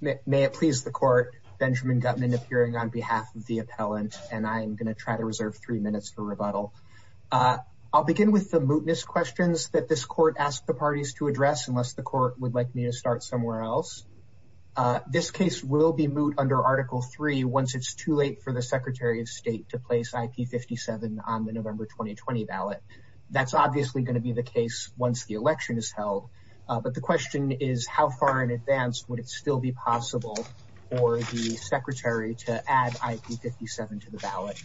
May it please the court, Benjamin Gutman appearing on behalf of the appellant, and I'm going to try to reserve three minutes for rebuttal. I'll begin with the mootness questions that this court asked the parties to address, unless the court would like me to start somewhere else. This case will be moot under Article 3 once it's too late for the Secretary of State to place IP57 on the November 2020 ballot. That's obviously going to be the case once the election is held, but the question is how far in advance would it still be possible for the Secretary to add IP57 to the ballot?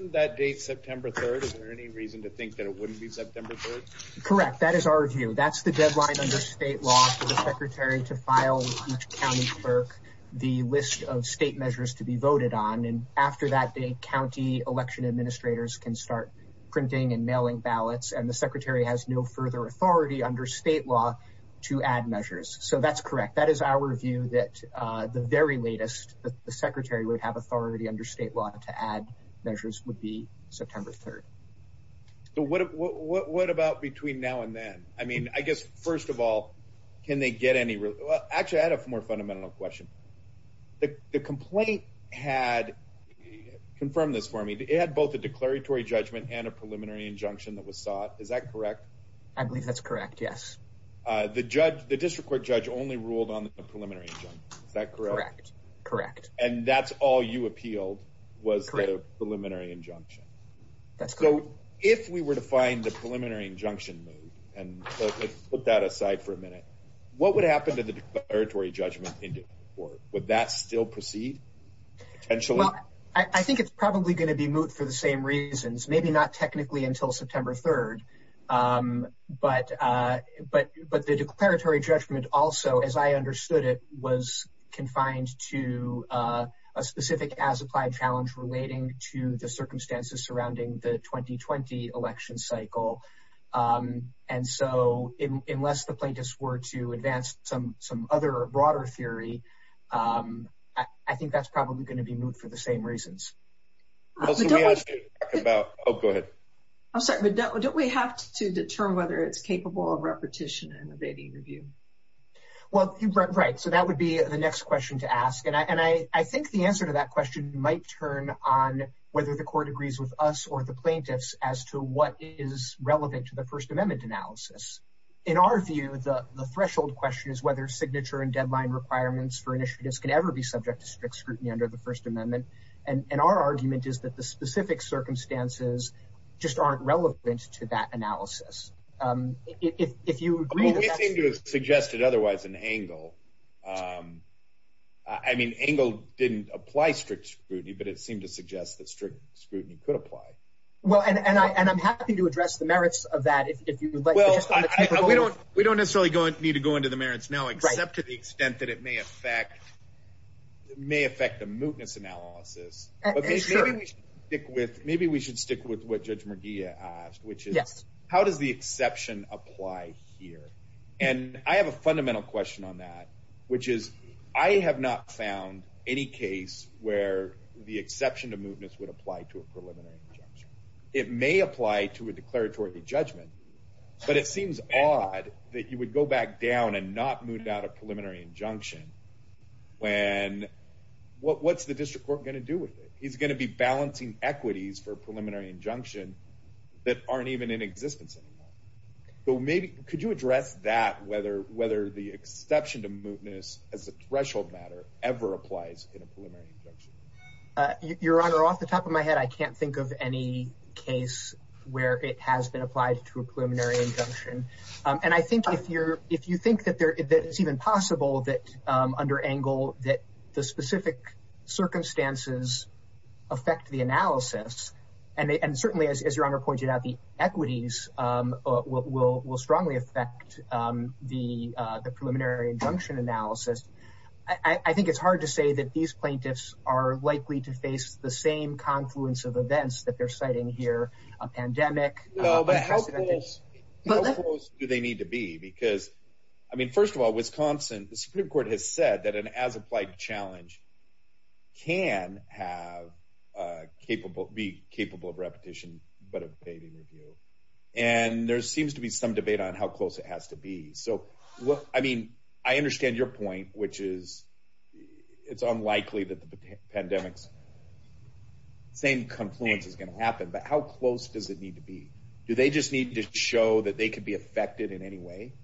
Isn't that date September 3rd? Is there any reason to think that it wouldn't be September 3rd? Correct, that is our view. That's the deadline under state law for the Secretary to file with each county clerk the list of state measures to be voted on, and after that day, county election administrators can start printing and mailing ballots, and the Secretary has no further authority under state law to add measures. So that's correct. That is our view that the very latest that the Secretary would have authority under state law to add measures would be September 3rd. So what about between now and then? I mean, I guess, first of all, can they get any real... well, actually, I had a more fundamental question. The complaint had, confirm this for me, it had both a declaratory judgment and a preliminary injunction that was sought, is that correct? I believe that's correct, yes. The district court judge only ruled on the preliminary injunction, is that correct? Correct, correct. And that's all you appealed was the preliminary injunction. That's correct. So if we were to find the preliminary injunction move, and let's put that aside for a minute, what would happen to the declaratory judgment in the court? Would that still proceed, potentially? Well, I think it's probably going to be moved for the same reasons, maybe not technically until September 3rd. But the declaratory judgment also, as I understood it, was confined to a specific as-applied challenge relating to the circumstances surrounding the 2020 election cycle. And so, unless the plaintiffs were to advance some other, broader theory, I think that's probably going to be moved for the same reasons. Oh, go ahead. I'm sorry, but don't we have to determine whether it's capable of repetition and abating review? Well, right, so that would be the next question to ask. And I think the answer to that question might turn on whether the court agrees with us or the plaintiffs as to what is relevant to the First Amendment analysis. In our view, the threshold question is whether signature and deadline requirements for initiatives can ever be subject to strict scrutiny under the First Amendment. And our argument is that the specific circumstances just aren't relevant to that analysis. Well, we seem to have suggested otherwise in Engle. I mean, Engle didn't apply strict scrutiny, but it seemed to suggest that strict scrutiny could address the merits of that. We don't necessarily need to go into the merits now, except to the extent that it may affect the mootness analysis. Maybe we should stick with what Judge Merguia asked, which is, how does the exception apply here? And I have a fundamental question on that, which is, I have not found any case where the exception to mootness would apply to a preliminary injunction. It may apply to a declaratory judgment, but it seems odd that you would go back down and not moot out a preliminary injunction when, what's the district court going to do with it? He's going to be balancing equities for a preliminary injunction that aren't even in existence anymore. So maybe, could you address that, whether the exception to mootness as a threshold matter ever applies in a preliminary injunction? Your Honor, off the top of my head, I can't think of any case where it has been applied to a preliminary injunction. And I think if you're, if you think that there, that it's even possible that, under Engle, that the specific circumstances affect the analysis, and certainly, as Your Honor pointed out, the equities will strongly affect the preliminary injunction analysis. I think it's hard to say that these events that they're citing here, a pandemic. No, but how close do they need to be? Because, I mean, first of all, Wisconsin, the Supreme Court has said that an as-applied challenge can be capable of repetition, but of fading review. And there seems to be some debate on how close it has to be. So, I mean, I understand your point, which is, it's unlikely that the confluence is going to happen, but how close does it need to be? Do they just need to show that they could be affected in any way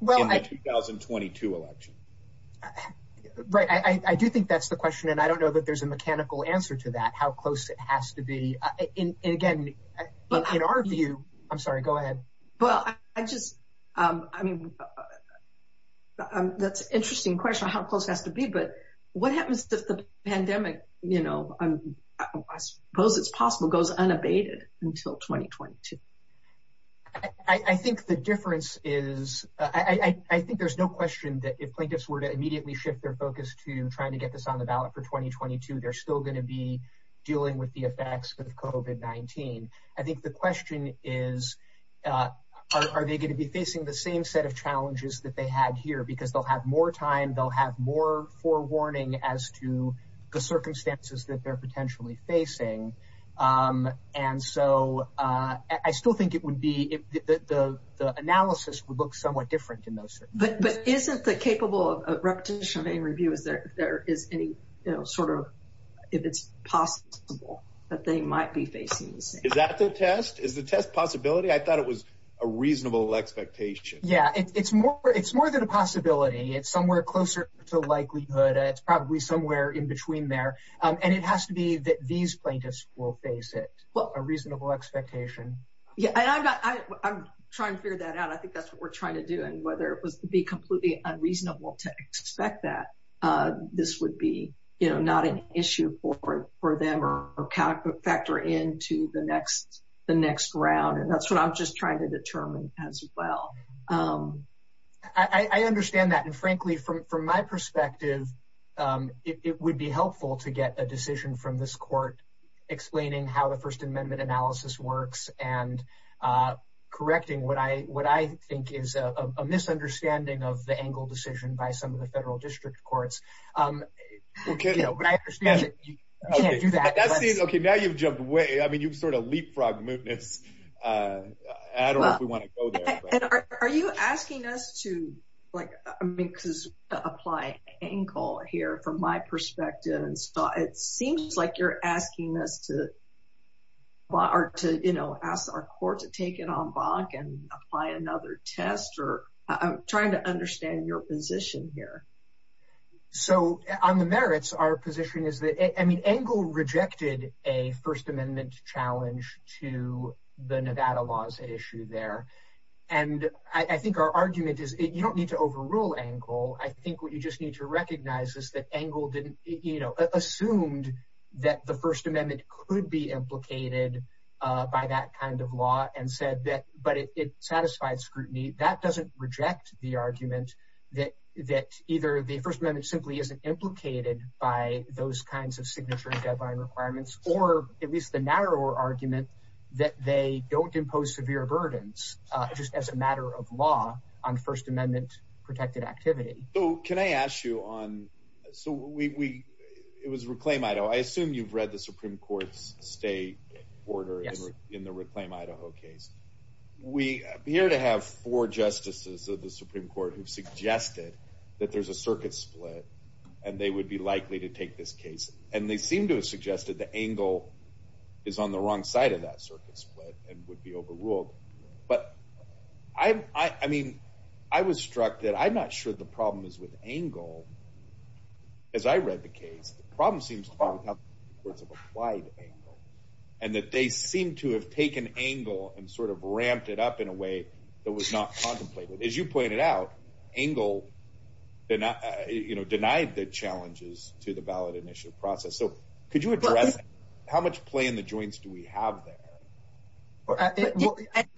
in the 2022 election? Right, I do think that's the question, and I don't know that there's a mechanical answer to that, how close it has to be. And again, in our view, I'm sorry, go ahead. Well, I just, I mean, that's an interesting question, how close it has to be, but what happens if the pandemic, I suppose it's possible, goes unabated until 2022? I think the difference is, I think there's no question that if plaintiffs were to immediately shift their focus to trying to get this on the ballot for 2022, they're still going to be dealing with the effects of COVID-19. I think the question is, are they going to be more forewarning as to the circumstances that they're potentially facing? And so, I still think it would be, the analysis would look somewhat different in those circumstances. But isn't the capable of repetition of any review, is there any sort of, if it's possible, that they might be facing the same? Is that the test? Is the test possibility? I thought it was a reasonable expectation. Yeah, it's more than a possibility. It's somewhere closer to likelihood. It's probably somewhere in between there. And it has to be that these plaintiffs will face it, a reasonable expectation. Yeah, I'm trying to figure that out. I think that's what we're trying to do. And whether it was to be completely unreasonable to expect that this would be not an issue for them or factor into the next round. And that's what I'm just trying to determine as well. I understand that. And frankly, from my perspective, it would be helpful to get a decision from this court explaining how the First Amendment analysis works and correcting what I think is a misunderstanding of the Engle decision by some of the federal district courts. But I understand that you can't do that. Okay, now you've jumped way. I mean, you've sort of leapfrogged mootness. I don't know if we want to go there. Are you asking us to, like, I mean, because applying Engle here from my perspective, and so it seems like you're asking us to, you know, ask our court to take it on back and apply another test, or I'm trying to understand your position here. So, on the merits, our position is that, I mean, Engle rejected a First Amendment challenge to the Nevada laws issue there. And I think our argument is, you don't need to overrule Engle. I think what you just need to recognize is that Engle didn't, you know, assumed that the First Amendment could be implicated by that kind of law and said that, but it satisfied scrutiny. That doesn't reject the argument that either the First Amendment simply isn't implicated by those kinds of signature and deadline requirements, or at least the narrower argument that they don't impose severe burdens just as a matter of law on First Amendment-protected activity. So, can I ask you on, so we, it was Reclaim Idaho. I assume you've read the Supreme of the Supreme Court who suggested that there's a circuit split and they would be likely to take this case, and they seem to have suggested that Engle is on the wrong side of that circuit split and would be overruled. But, I mean, I was struck that I'm not sure the problem is with Engle. As I read the case, the problem seems to be with how the Supreme Courts have applied Engle, and that they seem to have taken Engle and sort of ramped it up in a way that was not contemplated. As you pointed out, Engle did not, you know, denied the challenges to the ballot initiative process. So, could you address how much play in the joints do we have there?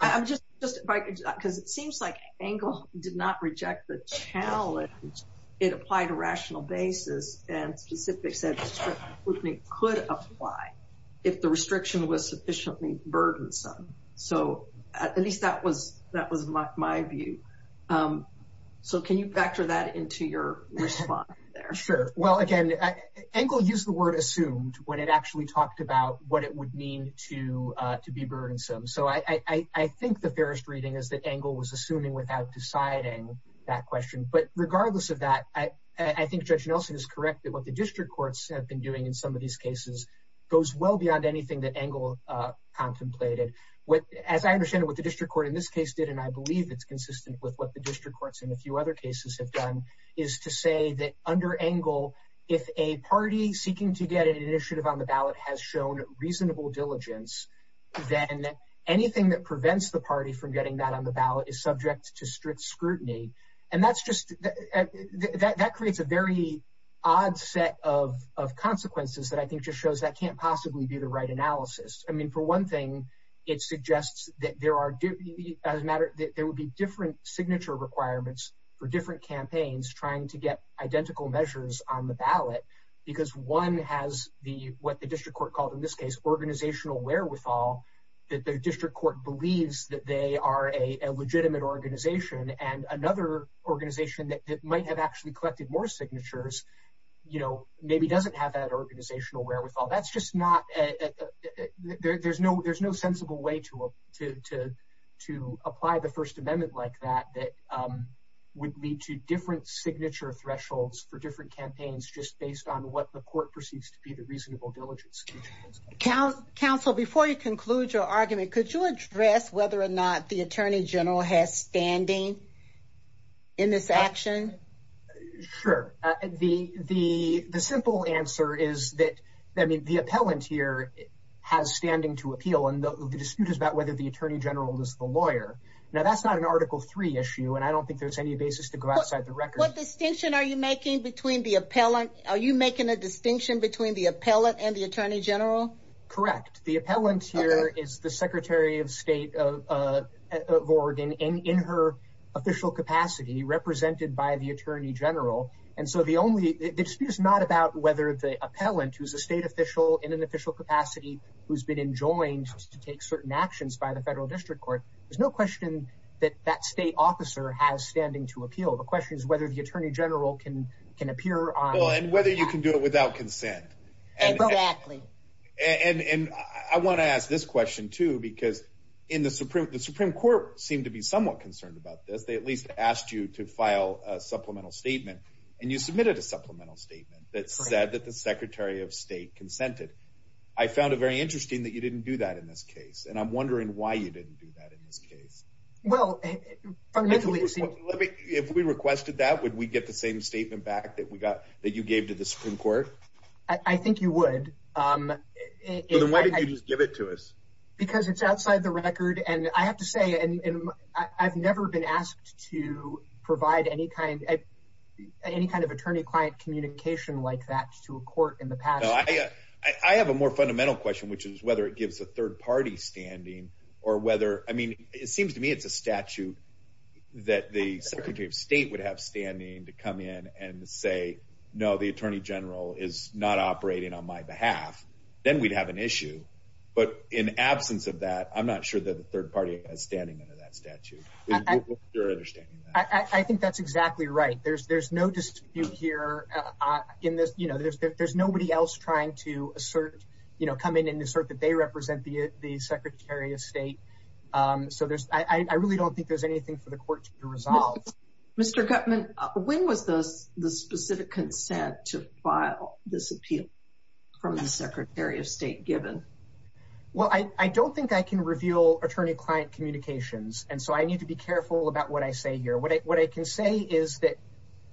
I'm just, because it seems like Engle did not reject the challenge. It applied a rational basis and specifics that could apply if the restriction was sufficiently burdensome. So, at least that was my view. So, can you factor that into your response there? Sure. Well, again, Engle used the word assumed when it actually talked about what it would mean to be burdensome. So, I think the fairest reading is that Engle was assuming without deciding that question. But regardless of that, I think Judge Nelson is correct that what the district courts have been doing in some of these cases goes well beyond anything that Engle contemplated. What, as I understand it, what the district court in this case did, and I believe it's consistent with what the district courts in a few other cases have done, is to say that under Engle, if a party seeking to get an initiative on the ballot has shown reasonable diligence, then anything that prevents the party from getting that on the ballot is subject to strict scrutiny. And that's just, that creates a very odd set of consequences that I think just shows that can't possibly be the right analysis. I mean, for one thing, it suggests that there are, as a matter, that there would be different signature requirements for different campaigns trying to get identical measures on the ballot because one has the, what the district court called in this case, organizational wherewithal that the district court believes that they are a legitimate organization and another organization that might have actually collected more signatures, you know, maybe doesn't have that organizational wherewithal. That's just not, there's no sensible way to apply the First Amendment like that that would lead to different signature thresholds for different campaigns just based on what the court perceives to be the reasonable diligence. Council, before you conclude your argument, could you address whether or not the Attorney General has standing in this action? Sure. The simple answer is that, I mean, the appellant here has standing to appeal and the dispute is about whether the Attorney General is the lawyer. Now, that's not an Article III issue, and I don't think there's any basis to go outside the record. What distinction are you making between the appellant? Are you making a distinction between the appellant and the Attorney General? Correct. The appellant here is the Secretary of State of Oregon in her official capacity represented by the Attorney General, and so the dispute is not about whether the appellant, who's a state official in an official capacity, who's been enjoined to take certain actions by the federal district court. There's no question that that state officer has standing to appeal. The question is whether the Attorney General can appear on... Well, and whether you can do it without consent. Exactly. And I want to ask this question, too, because the Supreme Court seemed to be somewhat concerned about this. They at least asked you to file a supplemental statement, and you submitted a supplemental statement that said that the Secretary of State consented. I found it very interesting that you didn't do that in this case, and I'm wondering why you didn't do that in this case. Well, fundamentally... If we requested that, would we get the same statement back that you gave to the Supreme Court? I think you would. Then why did you just give it to us? Because it's outside the record, and I have to say, I've never been asked to provide any kind of attorney-client communication like that to a court in the past. I have a more fundamental question, which is whether it gives a third-party standing or whether... It seems to me it's a statute that the Secretary of State would have standing to come in and say, no, the Attorney General is not operating on my behalf. Then we'd have an issue. But in absence of that, I'm not sure that the third party has standing under that statute. I think that's exactly right. There's no dispute here. There's nobody else trying to state. I really don't think there's anything for the court to resolve. Mr. Gutman, when was the specific consent to file this appeal from the Secretary of State given? Well, I don't think I can reveal attorney-client communications, and so I need to be careful about what I say here. What I can say is that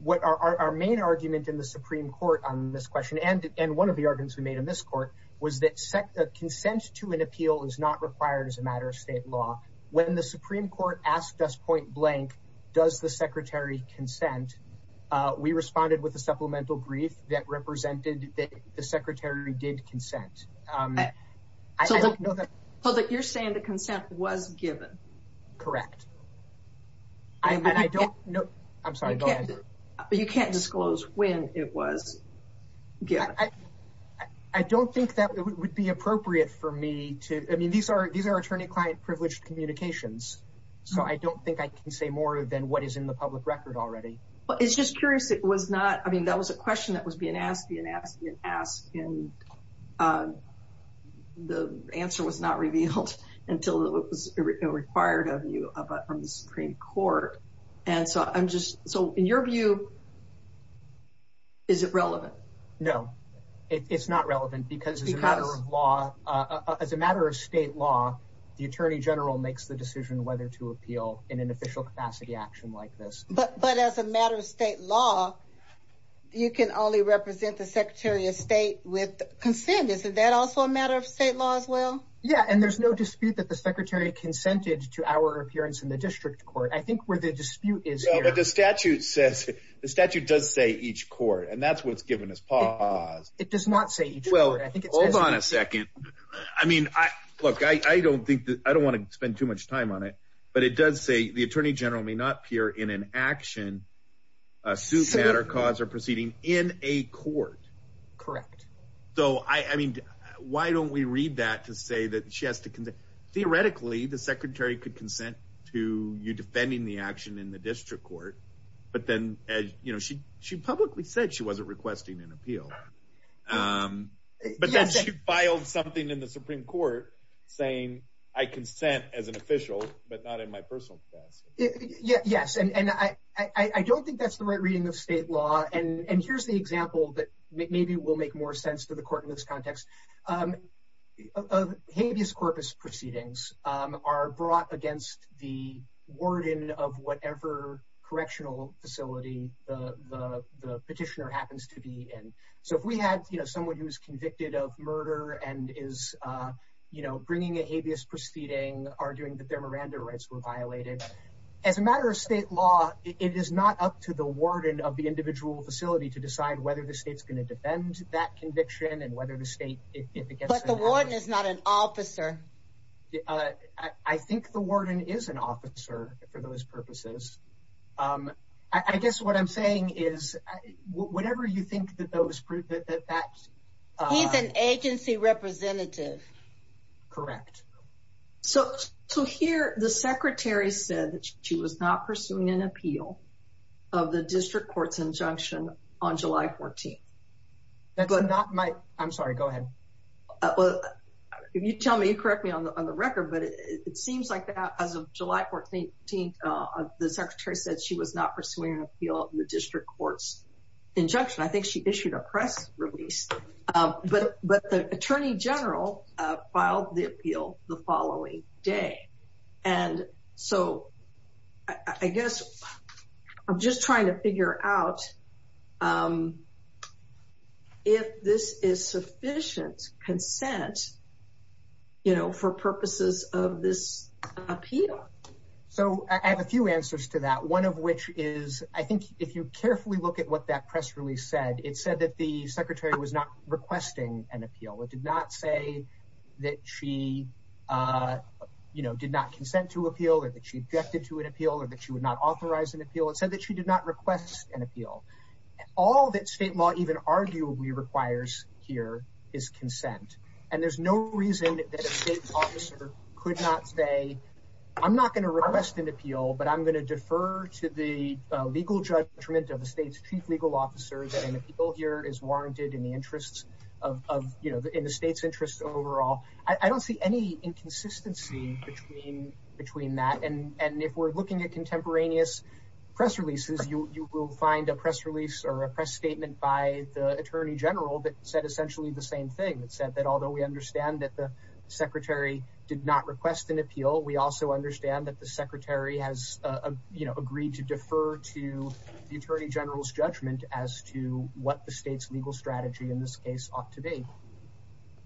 our main argument in the Supreme Court on this question, and one of the arguments we made in this court, was that consent to an appeal is not required as a matter of state law. When the Supreme Court asked us point-blank, does the Secretary consent, we responded with a supplemental brief that represented that the Secretary did consent. You're saying the consent was given? Correct. You can't disclose when it was given? I don't think that would be appropriate for me to, I mean, these are attorney-client privileged communications, so I don't think I can say more than what is in the public record already. Well, it's just curious, it was not, I mean, that was a question that was being asked, being asked, being asked, and the answer was not revealed until it was required of you from the Supreme Court. And so I'm just, so in your view, is it relevant? No, it's not relevant, because as a matter of law, as a matter of state law, the Attorney General makes the decision whether to appeal in an official capacity action like this. But as a matter of state law, you can only represent the Secretary of State with consent, isn't that also a matter of state law as well? Yeah, and there's no dispute that the Secretary consented to our appearance in the district court. I think where the dispute is here... The statute says, the statute does say each court, and that's what's given as pause. It does not say each court. Well, hold on a second. I mean, look, I don't think, I don't want to spend too much time on it, but it does say the Attorney General may not appear in an action, a suit, matter, cause, or proceeding in a court. Correct. So, I mean, why don't we read that to say that she has to, theoretically, the Secretary could consent to you defending the action in the district court, but then, you know, she publicly said she wasn't requesting an appeal. But then she filed something in the Supreme Court saying, I consent as an official, but not in my personal capacity. Yes, and I don't think that's the right reading of state law. And here's the example that maybe will make more sense to the court in this context. A habeas corpus proceedings are brought against the warden of whatever correctional facility the petitioner happens to be in. So if we had, you know, someone who was convicted of murder and is, you know, bringing a habeas proceeding, arguing that their Miranda rights were violated, as a matter of state law, it is not up to the warden of the individual facility to decide whether the state's going to defend that conviction and whether the state, if it gets... But the warden is not an officer. I think the warden is an officer for those purposes. I guess what I'm saying is, whatever you think that those... He's an agency representative. Correct. So here, the Secretary said that she was not pursuing an appeal of the district court's injunction on July 14th. I'm sorry, go ahead. If you tell me, you correct me on the record, but it seems like that as of July 14th, the Secretary said she was not pursuing an appeal of the district court's injunction. I think she issued a press release. But the Attorney General filed the appeal the following day. And so I guess I'm just trying to figure out if this is sufficient consent, you know, for purposes of this appeal. So I have a few answers to that. One of which is, I think if you carefully look at what that press release said, it said that the Secretary was not requesting an appeal. It did not say that she, you know, did not consent to appeal, or that she objected to an appeal, or that she would not authorize an appeal. It said that she did not request an appeal. All that state law even arguably requires here is consent. And there's no reason that a state officer could not say, I'm not going to request an appeal, but I'm going to defer to the legal judgment of the state's chief legal officer that an appeal here is warranted in the interests of, you know, in the state's interests overall. I don't see any inconsistency between that. And if we're looking at contemporaneous press releases, you will find a press release or a press statement by the Attorney General that said essentially the same thing. It said that although we understand that the Secretary did not request an appeal, we also understand that the Secretary has, you know, agreed to defer to the Attorney General's judgment as to what the state's legal strategy in this case ought to be.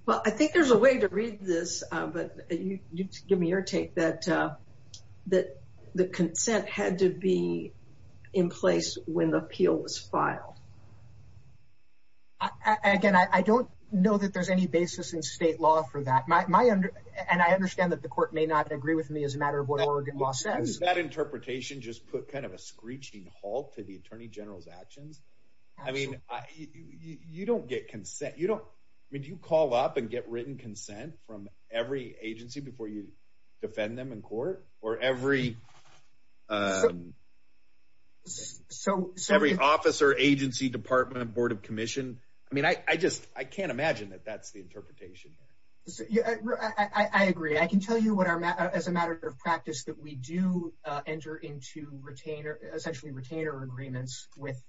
Well, I think there's a way to read this, but you give me your take that the consent had to be in place when the appeal was filed. Again, I don't know that there's any basis in state law for that. And I understand that the court may not agree with me as a matter of what Oregon law says. Does that interpretation just put kind of a screeching halt to the Attorney General's actions? I mean, you don't get consent. You don't, I mean, do you call up and get written consent from every agency before you defend them in court? Or every officer, agency, department, board of commission? I mean, I just, I can't imagine that that's the interpretation here. I agree. I can tell you what our, as a matter of practice, that we do enter into retainer, essentially retainer agreements with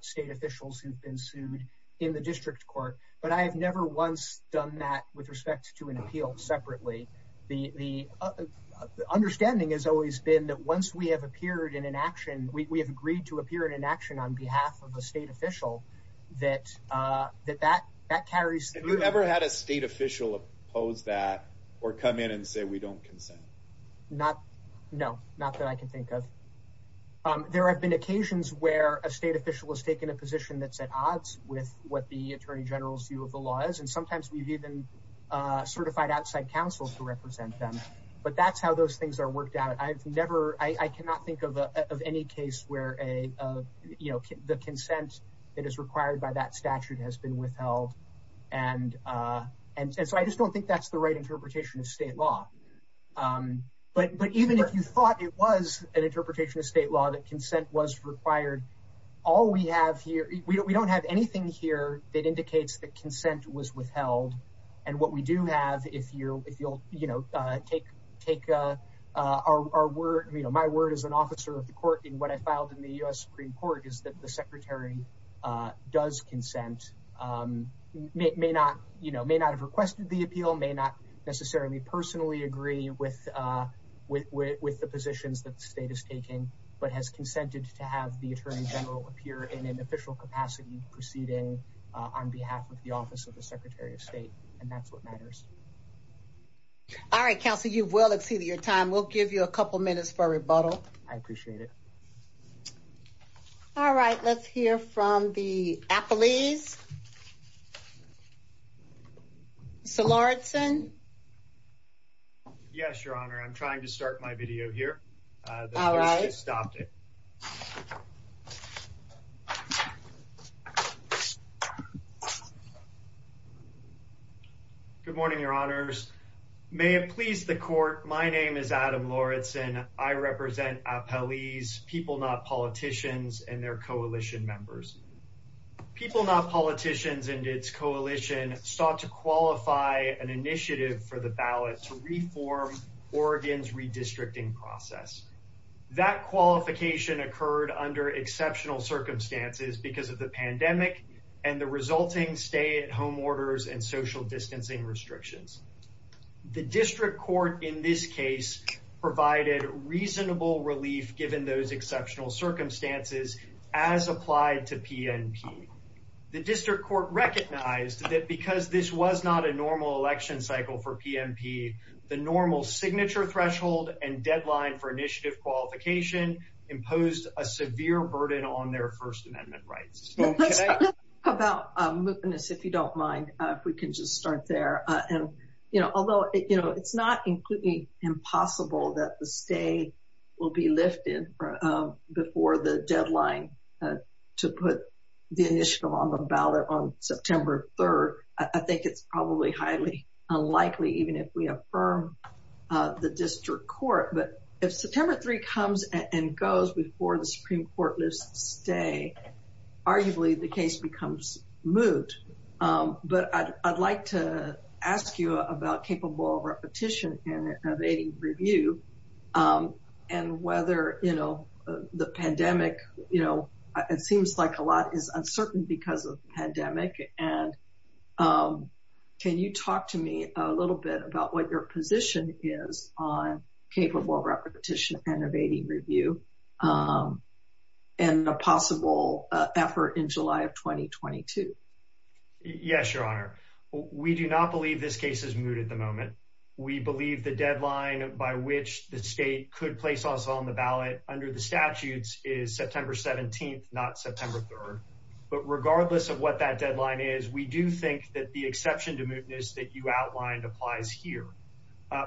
state officials who've been sued in the district court. But I have never once done that with respect to an appeal separately. The understanding has always been that once we have appeared in an action, we have agreed to appear in an action on behalf of a state official, that that carries. Have you ever had a state official oppose that or come in and say, we don't consent? Not, no, not that I can think of. There have been occasions where a state official has taken a position that's at odds with what the Attorney General's view of the law is. And sometimes we've even certified outside counsel to represent them. But that's how those things are worked out. I've never, I cannot think of any case where a, you know, the consent that is required by that statute has been withheld. And so I just don't think that's the right interpretation of state law. But even if you thought it was an interpretation of state law that consent was required, all we have here, we don't have anything here that indicates that consent was withheld. And what we do have, if you'll, you know, take our word, you know, my word as an officer of the court in what I filed in the U.S. Supreme Court is that the secretary does consent, may not, you know, may not have requested the appeal, may not necessarily personally agree with the positions that the state is taking, but has consented to have the Attorney General appear in an official capacity proceeding on behalf of the Office of the Secretary of State. And that's what matters. All right, counsel, you've well exceeded your time. We'll give you a couple minutes for rebuttal. I appreciate it. All right, let's hear from the appellees. Mr. Lawrenson. Yes, Your Honor. I'm trying to start my video here. All right. Good morning, Your Honors. May it please the court. My name is Adam Lawrenson. I represent appellees, people, not politicians, and their coalition members. People, not politicians and its coalition sought to qualify an initiative for the ballot to reform Oregon's redistricting process. That qualification occurred under exceptional circumstances because of the pandemic and the resulting stay-at-home orders and social distancing restrictions. The district court in this case provided reasonable relief given those exceptional circumstances as applied to PNP. The district court recognized that because this was not a normal election cycle for PNP, the normal signature threshold and deadline for initiative qualification imposed a severe burden on their First Amendment rights. Can I talk about mootness, if you don't mind, if we can just start there. Although it's not completely impossible that the stay will be lifted before the deadline to put the initiative on the ballot on September 3rd, I think it's probably highly unlikely even if we affirm the district court. But if September 3 comes and goes before the Supreme Court lifts the stay, arguably the case becomes moot. But I'd like to ask you about Capable Repetition and Evading Review and whether the pandemic, it seems like a lot is uncertain because of the pandemic. And can you talk to me a little bit about what your position is on Capable Repetition and Evading Review Yes, Your Honor. We do not believe this case is moot at the moment. We believe the deadline by which the state could place us on the ballot under the statutes is September 17th, not September 3rd. But regardless of what that deadline is, we do think that the exception to mootness that you outlined applies here.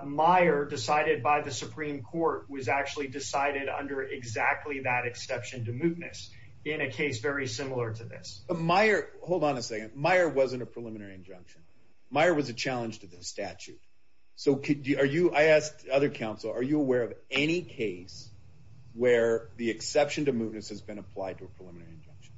Meyer decided by the Supreme Court was actually decided under exactly that exception to mootness in a case very similar to this. Hold on a second. Meyer wasn't a preliminary injunction. Meyer was a challenge to the statute. So are you, I asked other counsel, are you aware of any case where the exception to mootness has been applied to a preliminary injunction?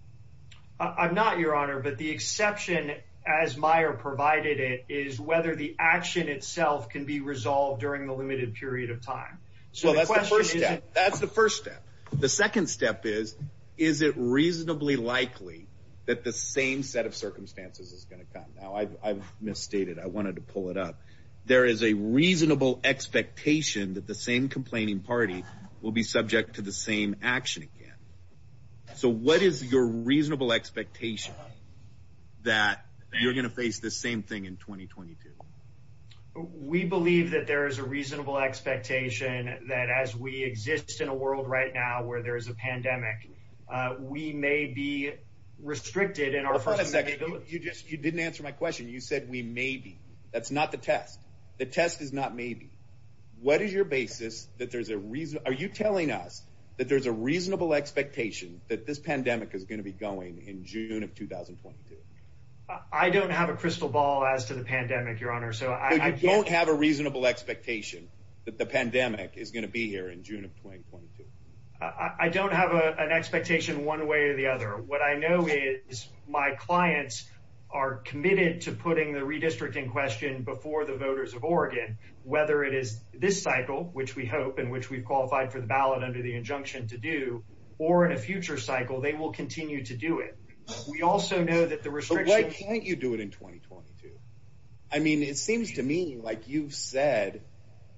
I'm not, Your Honor, but the exception as Meyer provided it is whether the action itself can be resolved during the limited period of time. So that's the first step. The second step is, is it reasonably likely that the same set of circumstances is gonna come? Now, I've misstated. I wanted to pull it up. There is a reasonable expectation that the same complaining party will be subject to the same action again. So what is your reasonable expectation that you're gonna face the same thing in 2022? We believe that there is a reasonable expectation that as we exist in a world right now where there is a pandemic, we may be restricted in our- Hold on a second. You just, you didn't answer my question. You said we may be. That's not the test. The test is not maybe. What is your basis that there's a reason? Are you telling us that there's a reasonable expectation that this pandemic is gonna be going in June of 2022? I don't have a crystal ball as to the pandemic, Your Honor. So I can't- You don't have a reasonable expectation that the pandemic is gonna be here in June of 2022. I don't have an expectation one way or the other. What I know is my clients are committed to putting the redistricting question before the voters of Oregon, whether it is this cycle, which we hope, in which we've qualified for the ballot under the injunction to do, or in a future cycle, they will continue to do it. We also know that the restrictions- But why can't you do it in 2022? I mean, it seems to me like you've said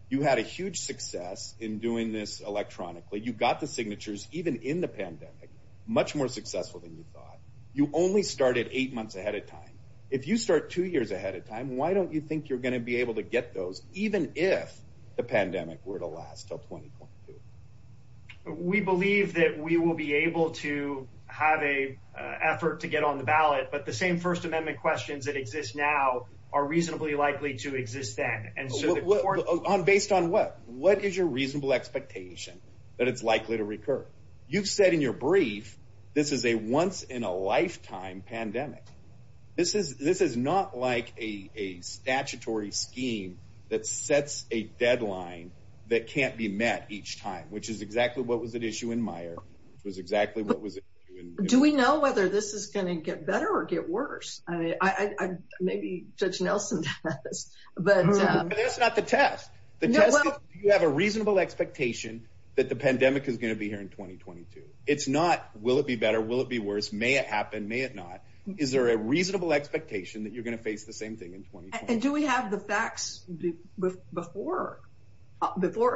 you had a huge success in doing this electronically. You got the signatures even in the pandemic, much more successful than you thought. You only started eight months ahead of time. If you start two years ahead of time, why don't you think you're gonna be able to get those even if the pandemic were to last till 2022? We believe that we will be able to have a effort to get on the ballot, but the same First Amendment questions that exist now are reasonably likely to exist then. Based on what? What is your reasonable expectation that it's likely to recur? You've said in your brief, this is a once-in-a-lifetime pandemic. This is not like a statutory scheme that sets a deadline that can't be met each time, which is exactly what was at issue in Meijer, which was exactly what was at issue- Do we know whether this is gonna get better or get worse? Maybe Judge Nelson does, but- That's not the test. The test is do you have a reasonable expectation that the pandemic is gonna be here in 2022? It's not, will it be better? Will it be worse? May it happen? May it not? Is there a reasonable expectation that you're gonna face the same thing in 2022? And do we have the facts before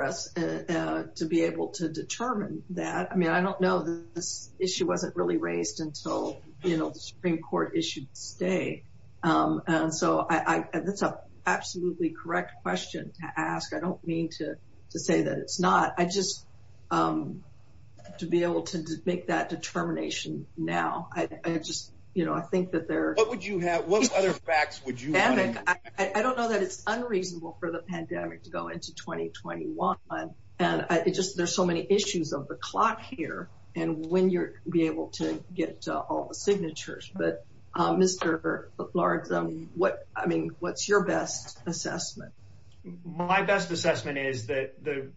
us to be able to determine that? I mean, I don't know. This issue wasn't really raised until the Supreme Court issued this day. And so that's an absolutely correct question to ask. I don't mean to say that it's not. I just, to be able to make that determination now, I just, you know, I think that there- What would you have? What other facts would you have? I don't know that it's unreasonable for the pandemic to go into 2021. And it just, there's so many issues of the clock here and when you'll be able to get all the signatures. But Mr. Largs, I mean, what's your best assessment? My best assessment is that the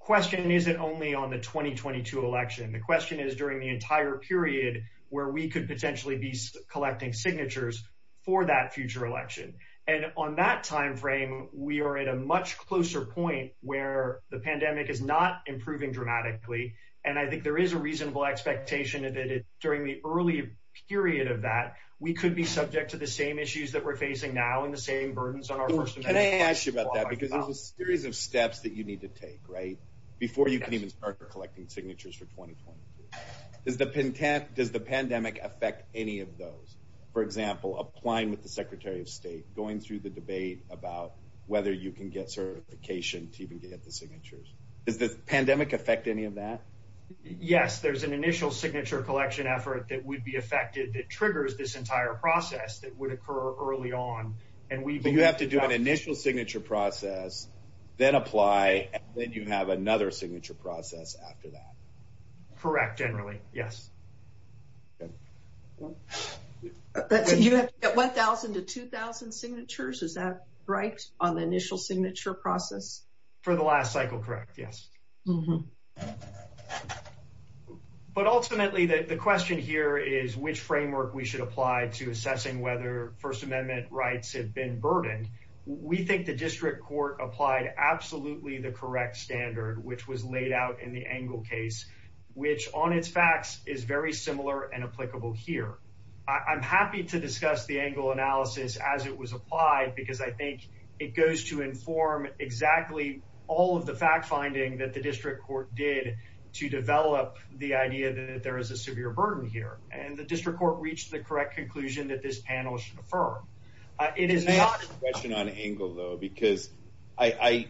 question isn't only on the 2022 election. The question is during the entire period where we could potentially be collecting signatures for that future election. And on that timeframe, we are at a much closer point where the pandemic is not improving dramatically. And I think there is a reasonable expectation that during the early period of that, we could be subject to the same issues that we're facing now and the same burdens on our person. Can I ask you about that? Because there's a series of steps that you need to take, right? Before you can even start collecting signatures for 2022. Does the pandemic affect any of those? For example, applying with the Secretary of State, going through the debate about whether you can get certification to even get the signatures. Does the pandemic affect any of that? Yes, there's an initial signature collection effort that would be affected that triggers this entire process that would occur early on. You have to do an initial signature process, then apply, and then you have another signature process after that. Correct, generally, yes. You have 1,000 to 2,000 signatures. Is that right on the initial signature process? For the last cycle, correct, yes. But ultimately the question here is which framework we should apply to assessing whether First Amendment rights have been burdened. We think the district court applied absolutely the correct standard, which was laid out in the Engel case, which on its facts is very similar and applicable here. I'm happy to discuss the Engel analysis as it was applied because I think it goes to inform exactly all of the fact-finding that the district court did to develop the idea that there is a severe burden here. And the district court reached the correct conclusion that this panel should affirm. It is not a question on Engel, though, because we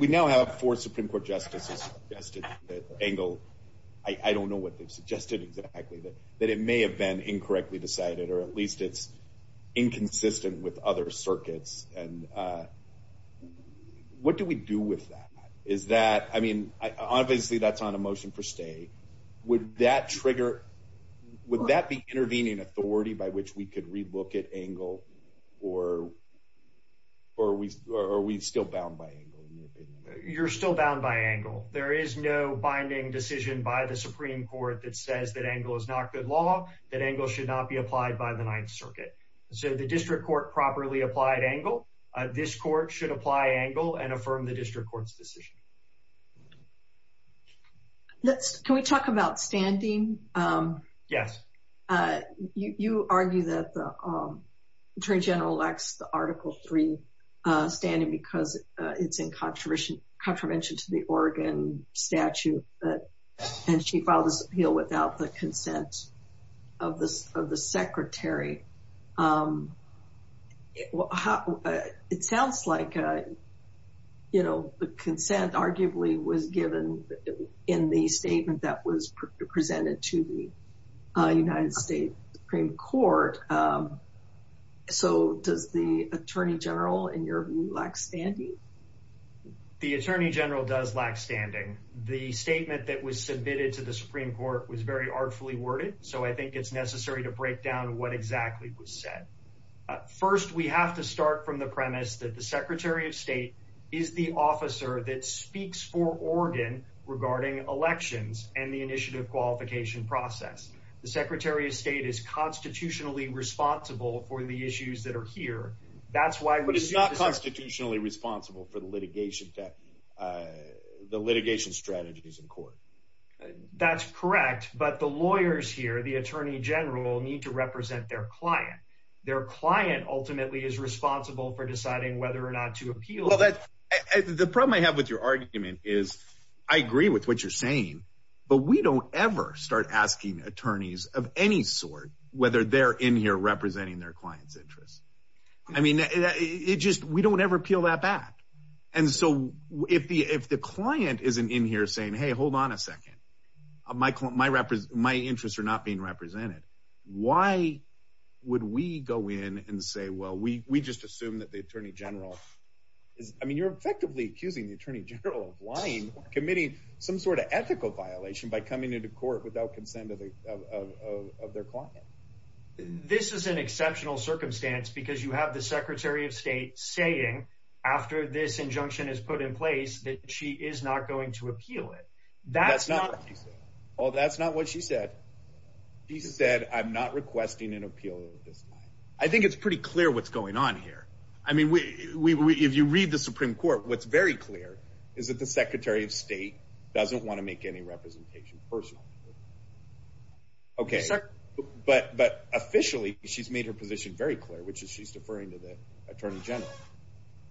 now have four Supreme Court justices who have suggested that Engel, I don't know what they've suggested exactly, that it may have been incorrectly decided or at least it's inconsistent with other circuits. And what do we do with that? Obviously, that's on a motion for stay. Would that be intervening authority by which we could relook at Engel or are we still bound by Engel? You're still bound by Engel. There is no binding decision by the Supreme Court that says that Engel is not good law, that Engel should not be applied by the Ninth Circuit. So the district court properly applied Engel. This court should apply Engel and affirm the district court's decision. Can we talk about standing? Yes. You argue that the attorney general lacks the Article III standing because it's in contravention to the Oregon statute and she filed this appeal without the consent of the secretary. It sounds like, you know, the consent arguably was given in the statement that was presented to the United States Supreme Court. So does the attorney general, in your view, lack standing? The attorney general does lack standing. The statement that was submitted to the Supreme Court was very artfully worded. So I think it's necessary to break down what exactly was said. First, we have to start from the premise that the secretary of state is the officer that speaks for Oregon regarding elections and the initiative qualification process. The secretary of state is constitutionally responsible for the issues that are here. But it's not constitutionally responsible for the litigation strategies in court. That's correct. But the lawyers here, the attorney general, need to represent their client. Their client ultimately is responsible for deciding whether or not to appeal. The problem I have with your argument is, I agree with what you're saying, but we don't ever start asking attorneys of any sort whether they're in here representing their client's interests. I mean, we don't ever appeal that back. And so if the client isn't in here saying, hey, hold on a second. My interests are not being represented. Why would we go in and say, well, we just assume that the attorney general is, I mean, you're effectively accusing the attorney general of lying, committing some sort of ethical violation by coming into court without consent of their client. This is an exceptional circumstance because you have the secretary of state saying after this injunction is put in place that she is not going to appeal it. That's not what she said. Well, that's not what she said. She said, I'm not requesting an appeal this time. I think it's pretty clear what's going on here. I mean, if you read the Supreme Court, what's very clear is that the secretary of state doesn't want to make any representation personal. Okay, but officially she's made her position very clear, which is she's deferring to the attorney general.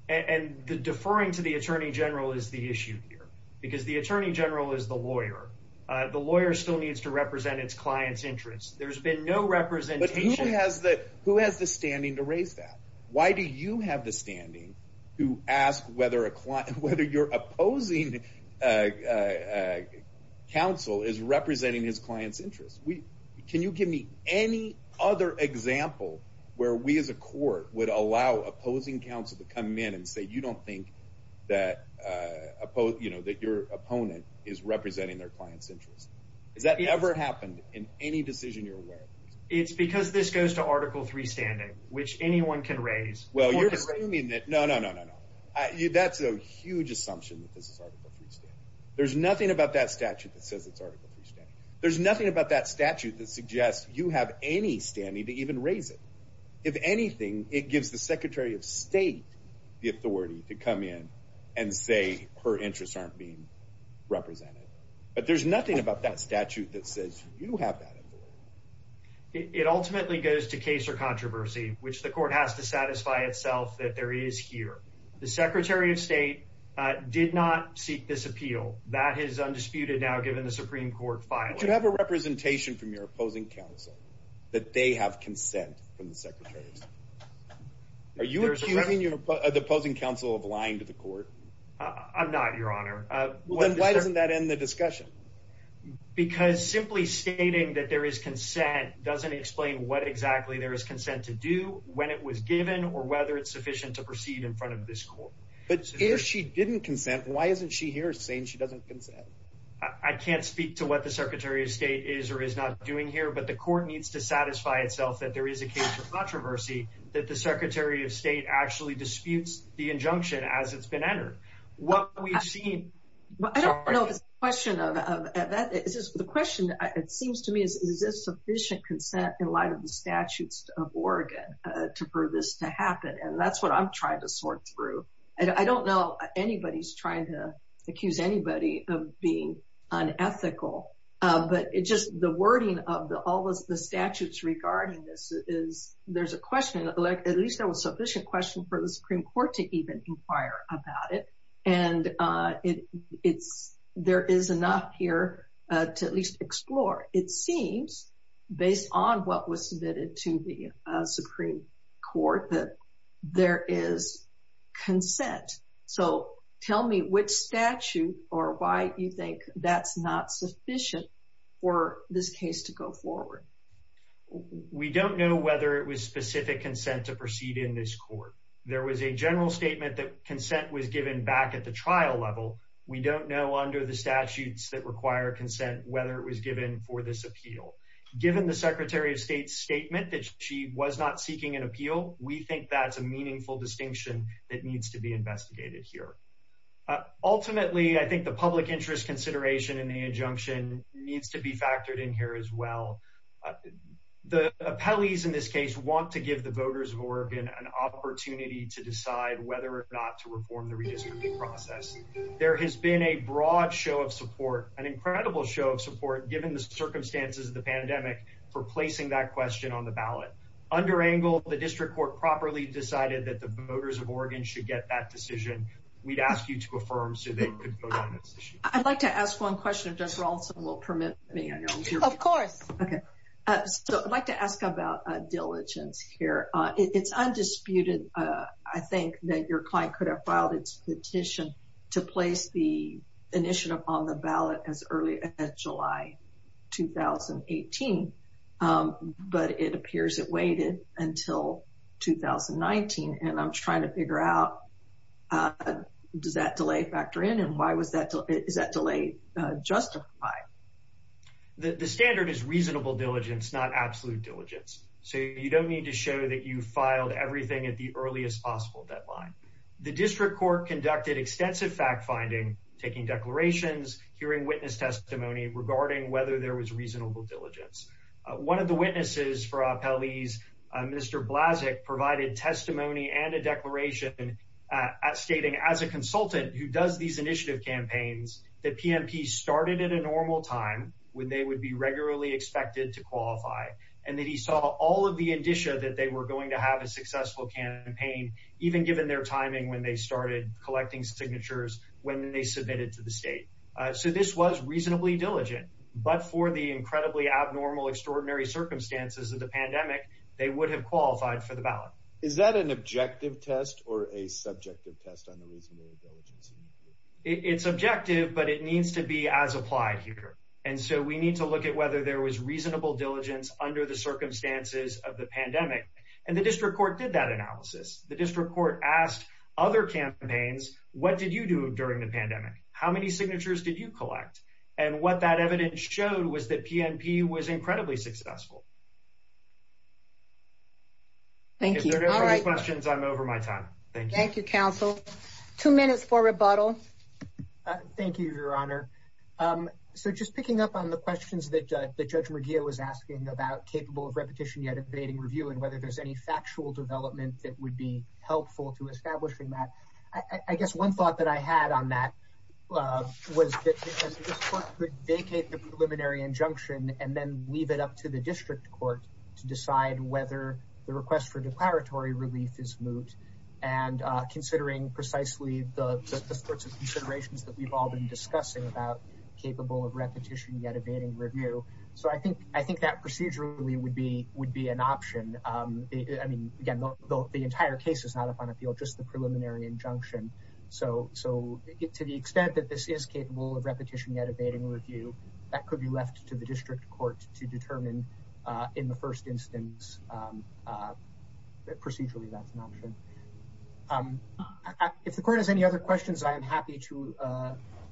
And the deferring to the attorney general is the issue here because the attorney general is the lawyer. The lawyer still needs to represent its client's interests. There's been no representation. But who has the standing to raise that? Why do you have the standing to ask whether your opposing counsel is representing his client's interests? Can you give me any other example where we as a court would allow opposing counsel to come in and say, you don't think that your opponent is representing their client's interests? Has that ever happened in any decision you're aware of? It's because this goes to article three standing, which anyone can raise. Well, you're assuming that... No, no, no, no, no. That's a huge assumption that this is article three standing. There's nothing about that statute that says it's article three standing. There's nothing about that statute that suggests you have any standing to even raise it. If anything, it gives the secretary of state the authority to come in and say her interests aren't being represented. But there's nothing about that statute that says you have that authority. It ultimately goes to case or controversy which the court has to satisfy itself that there is here. The secretary of state did not seek this appeal. That is undisputed now, given the Supreme Court filing. But you have a representation from your opposing counsel that they have consent from the secretaries. Are you accusing the opposing counsel of lying to the court? I'm not, your honor. Then why doesn't that end the discussion? Because simply stating that there is consent doesn't explain what exactly there is consent to do, when it was given, or whether it's sufficient to proceed in front of this court. But if she didn't consent, why isn't she here saying she doesn't consent? I can't speak to what the secretary of state is or is not doing here, but the court needs to satisfy itself that there is a case of controversy that the secretary of state actually disputes the injunction as it's been entered. What we've seen... I don't know if it's a question of... The question, it seems to me, is this sufficient consent in light of the statutes of Oregon to prove this to happen? And that's what I'm trying to sort through. I don't know anybody's trying to accuse anybody of being unethical, but it's just the wording of all the statutes regarding this is... There's a question, at least there was sufficient question for the Supreme Court to even inquire about it. And there is enough here to at least explore. It seems, based on what was submitted to the Supreme Court, that there is consent. So tell me which statute or why you think that's not sufficient for this case to go forward. We don't know whether it was specific consent to proceed in this court. There was a general statement that consent was given back at the trial level. We don't know under the statutes that require consent whether it was given for this appeal. Given the Secretary of State's statement that she was not seeking an appeal, we think that's a meaningful distinction that needs to be investigated here. Ultimately, I think the public interest consideration in the injunction needs to be factored in here as well. The appellees in this case want to give the voters of Oregon an opportunity to decide whether or not to reform the redistricting process. There has been a broad show of support, an incredible show of support, given the circumstances of the pandemic, for placing that question on the ballot. Under Angle, the district court properly decided that the voters of Oregon should get that decision. We'd ask you to affirm so they could vote on this issue. I'd like to ask one question. Does Rawlinson will permit me? Of course. Okay, so I'd like to ask about diligence here. It's undisputed, I think, that your client could have filed its petition to place the initiative on the ballot as early as July 2018, but it appears it waited until 2019. And I'm trying to figure out, does that delay factor in? And why is that delay justified? The standard is reasonable diligence, not absolute diligence. So you don't need to show that you filed everything at the earliest possible deadline. The district court conducted extensive fact-finding, taking declarations, hearing witness testimony regarding whether there was reasonable diligence. One of the witnesses for Appellee's, Mr. Blazek, provided testimony and a declaration stating as a consultant who does these initiative campaigns, that PMP started at a normal time when they would be regularly expected to qualify, and that he saw all of the indicia that they were going to have a successful campaign, even given their timing when they started collecting signatures, when they submitted to the state. So this was reasonably diligent, but for the incredibly abnormal, extraordinary circumstances of the pandemic, they would have qualified for the ballot. Is that an objective test or a subjective test on the reasonable diligence? It's objective, but it needs to be as applied here. And so we need to look at whether there was reasonable diligence under the circumstances of the pandemic. And the district court did that analysis. The district court asked other campaigns, what did you do during the pandemic? How many signatures did you collect? And what that evidence showed was that PMP was incredibly successful. If there are no further questions, I'm over my time. Thank you. Thank you, counsel. Two minutes for rebuttal. Thank you, Your Honor. So just picking up on the questions that Judge McGeough was asking about capable of repetition yet evading review and whether there's any factual development that would be helpful to establishing that. I guess one thought that I had on that was that this court could vacate the preliminary injunction and then leave it up to the district court to decide whether the request for declaratory relief is moot. And considering precisely the sorts of considerations that we've all been discussing about capable of repetition yet evading review. So I think that procedurally would be an option. I mean, again, the entire case is not up on appeal, just the preliminary injunction. So to the extent that this is capable of repetition yet evading review, that could be left to the district court to determine in the first instance. Procedurally, that's an option. If the court has any other questions, I am happy to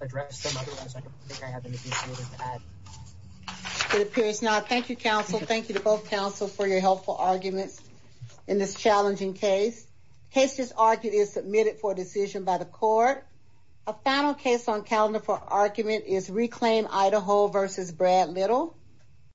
address them. Otherwise, I don't think I have anything further to add. It appears not. Thank you, counsel. Thank you to both counsel for your helpful arguments in this challenging case. Case is argued is submitted for decision by the court. A final case on calendar for argument is Reclaim Idaho versus Brad Little.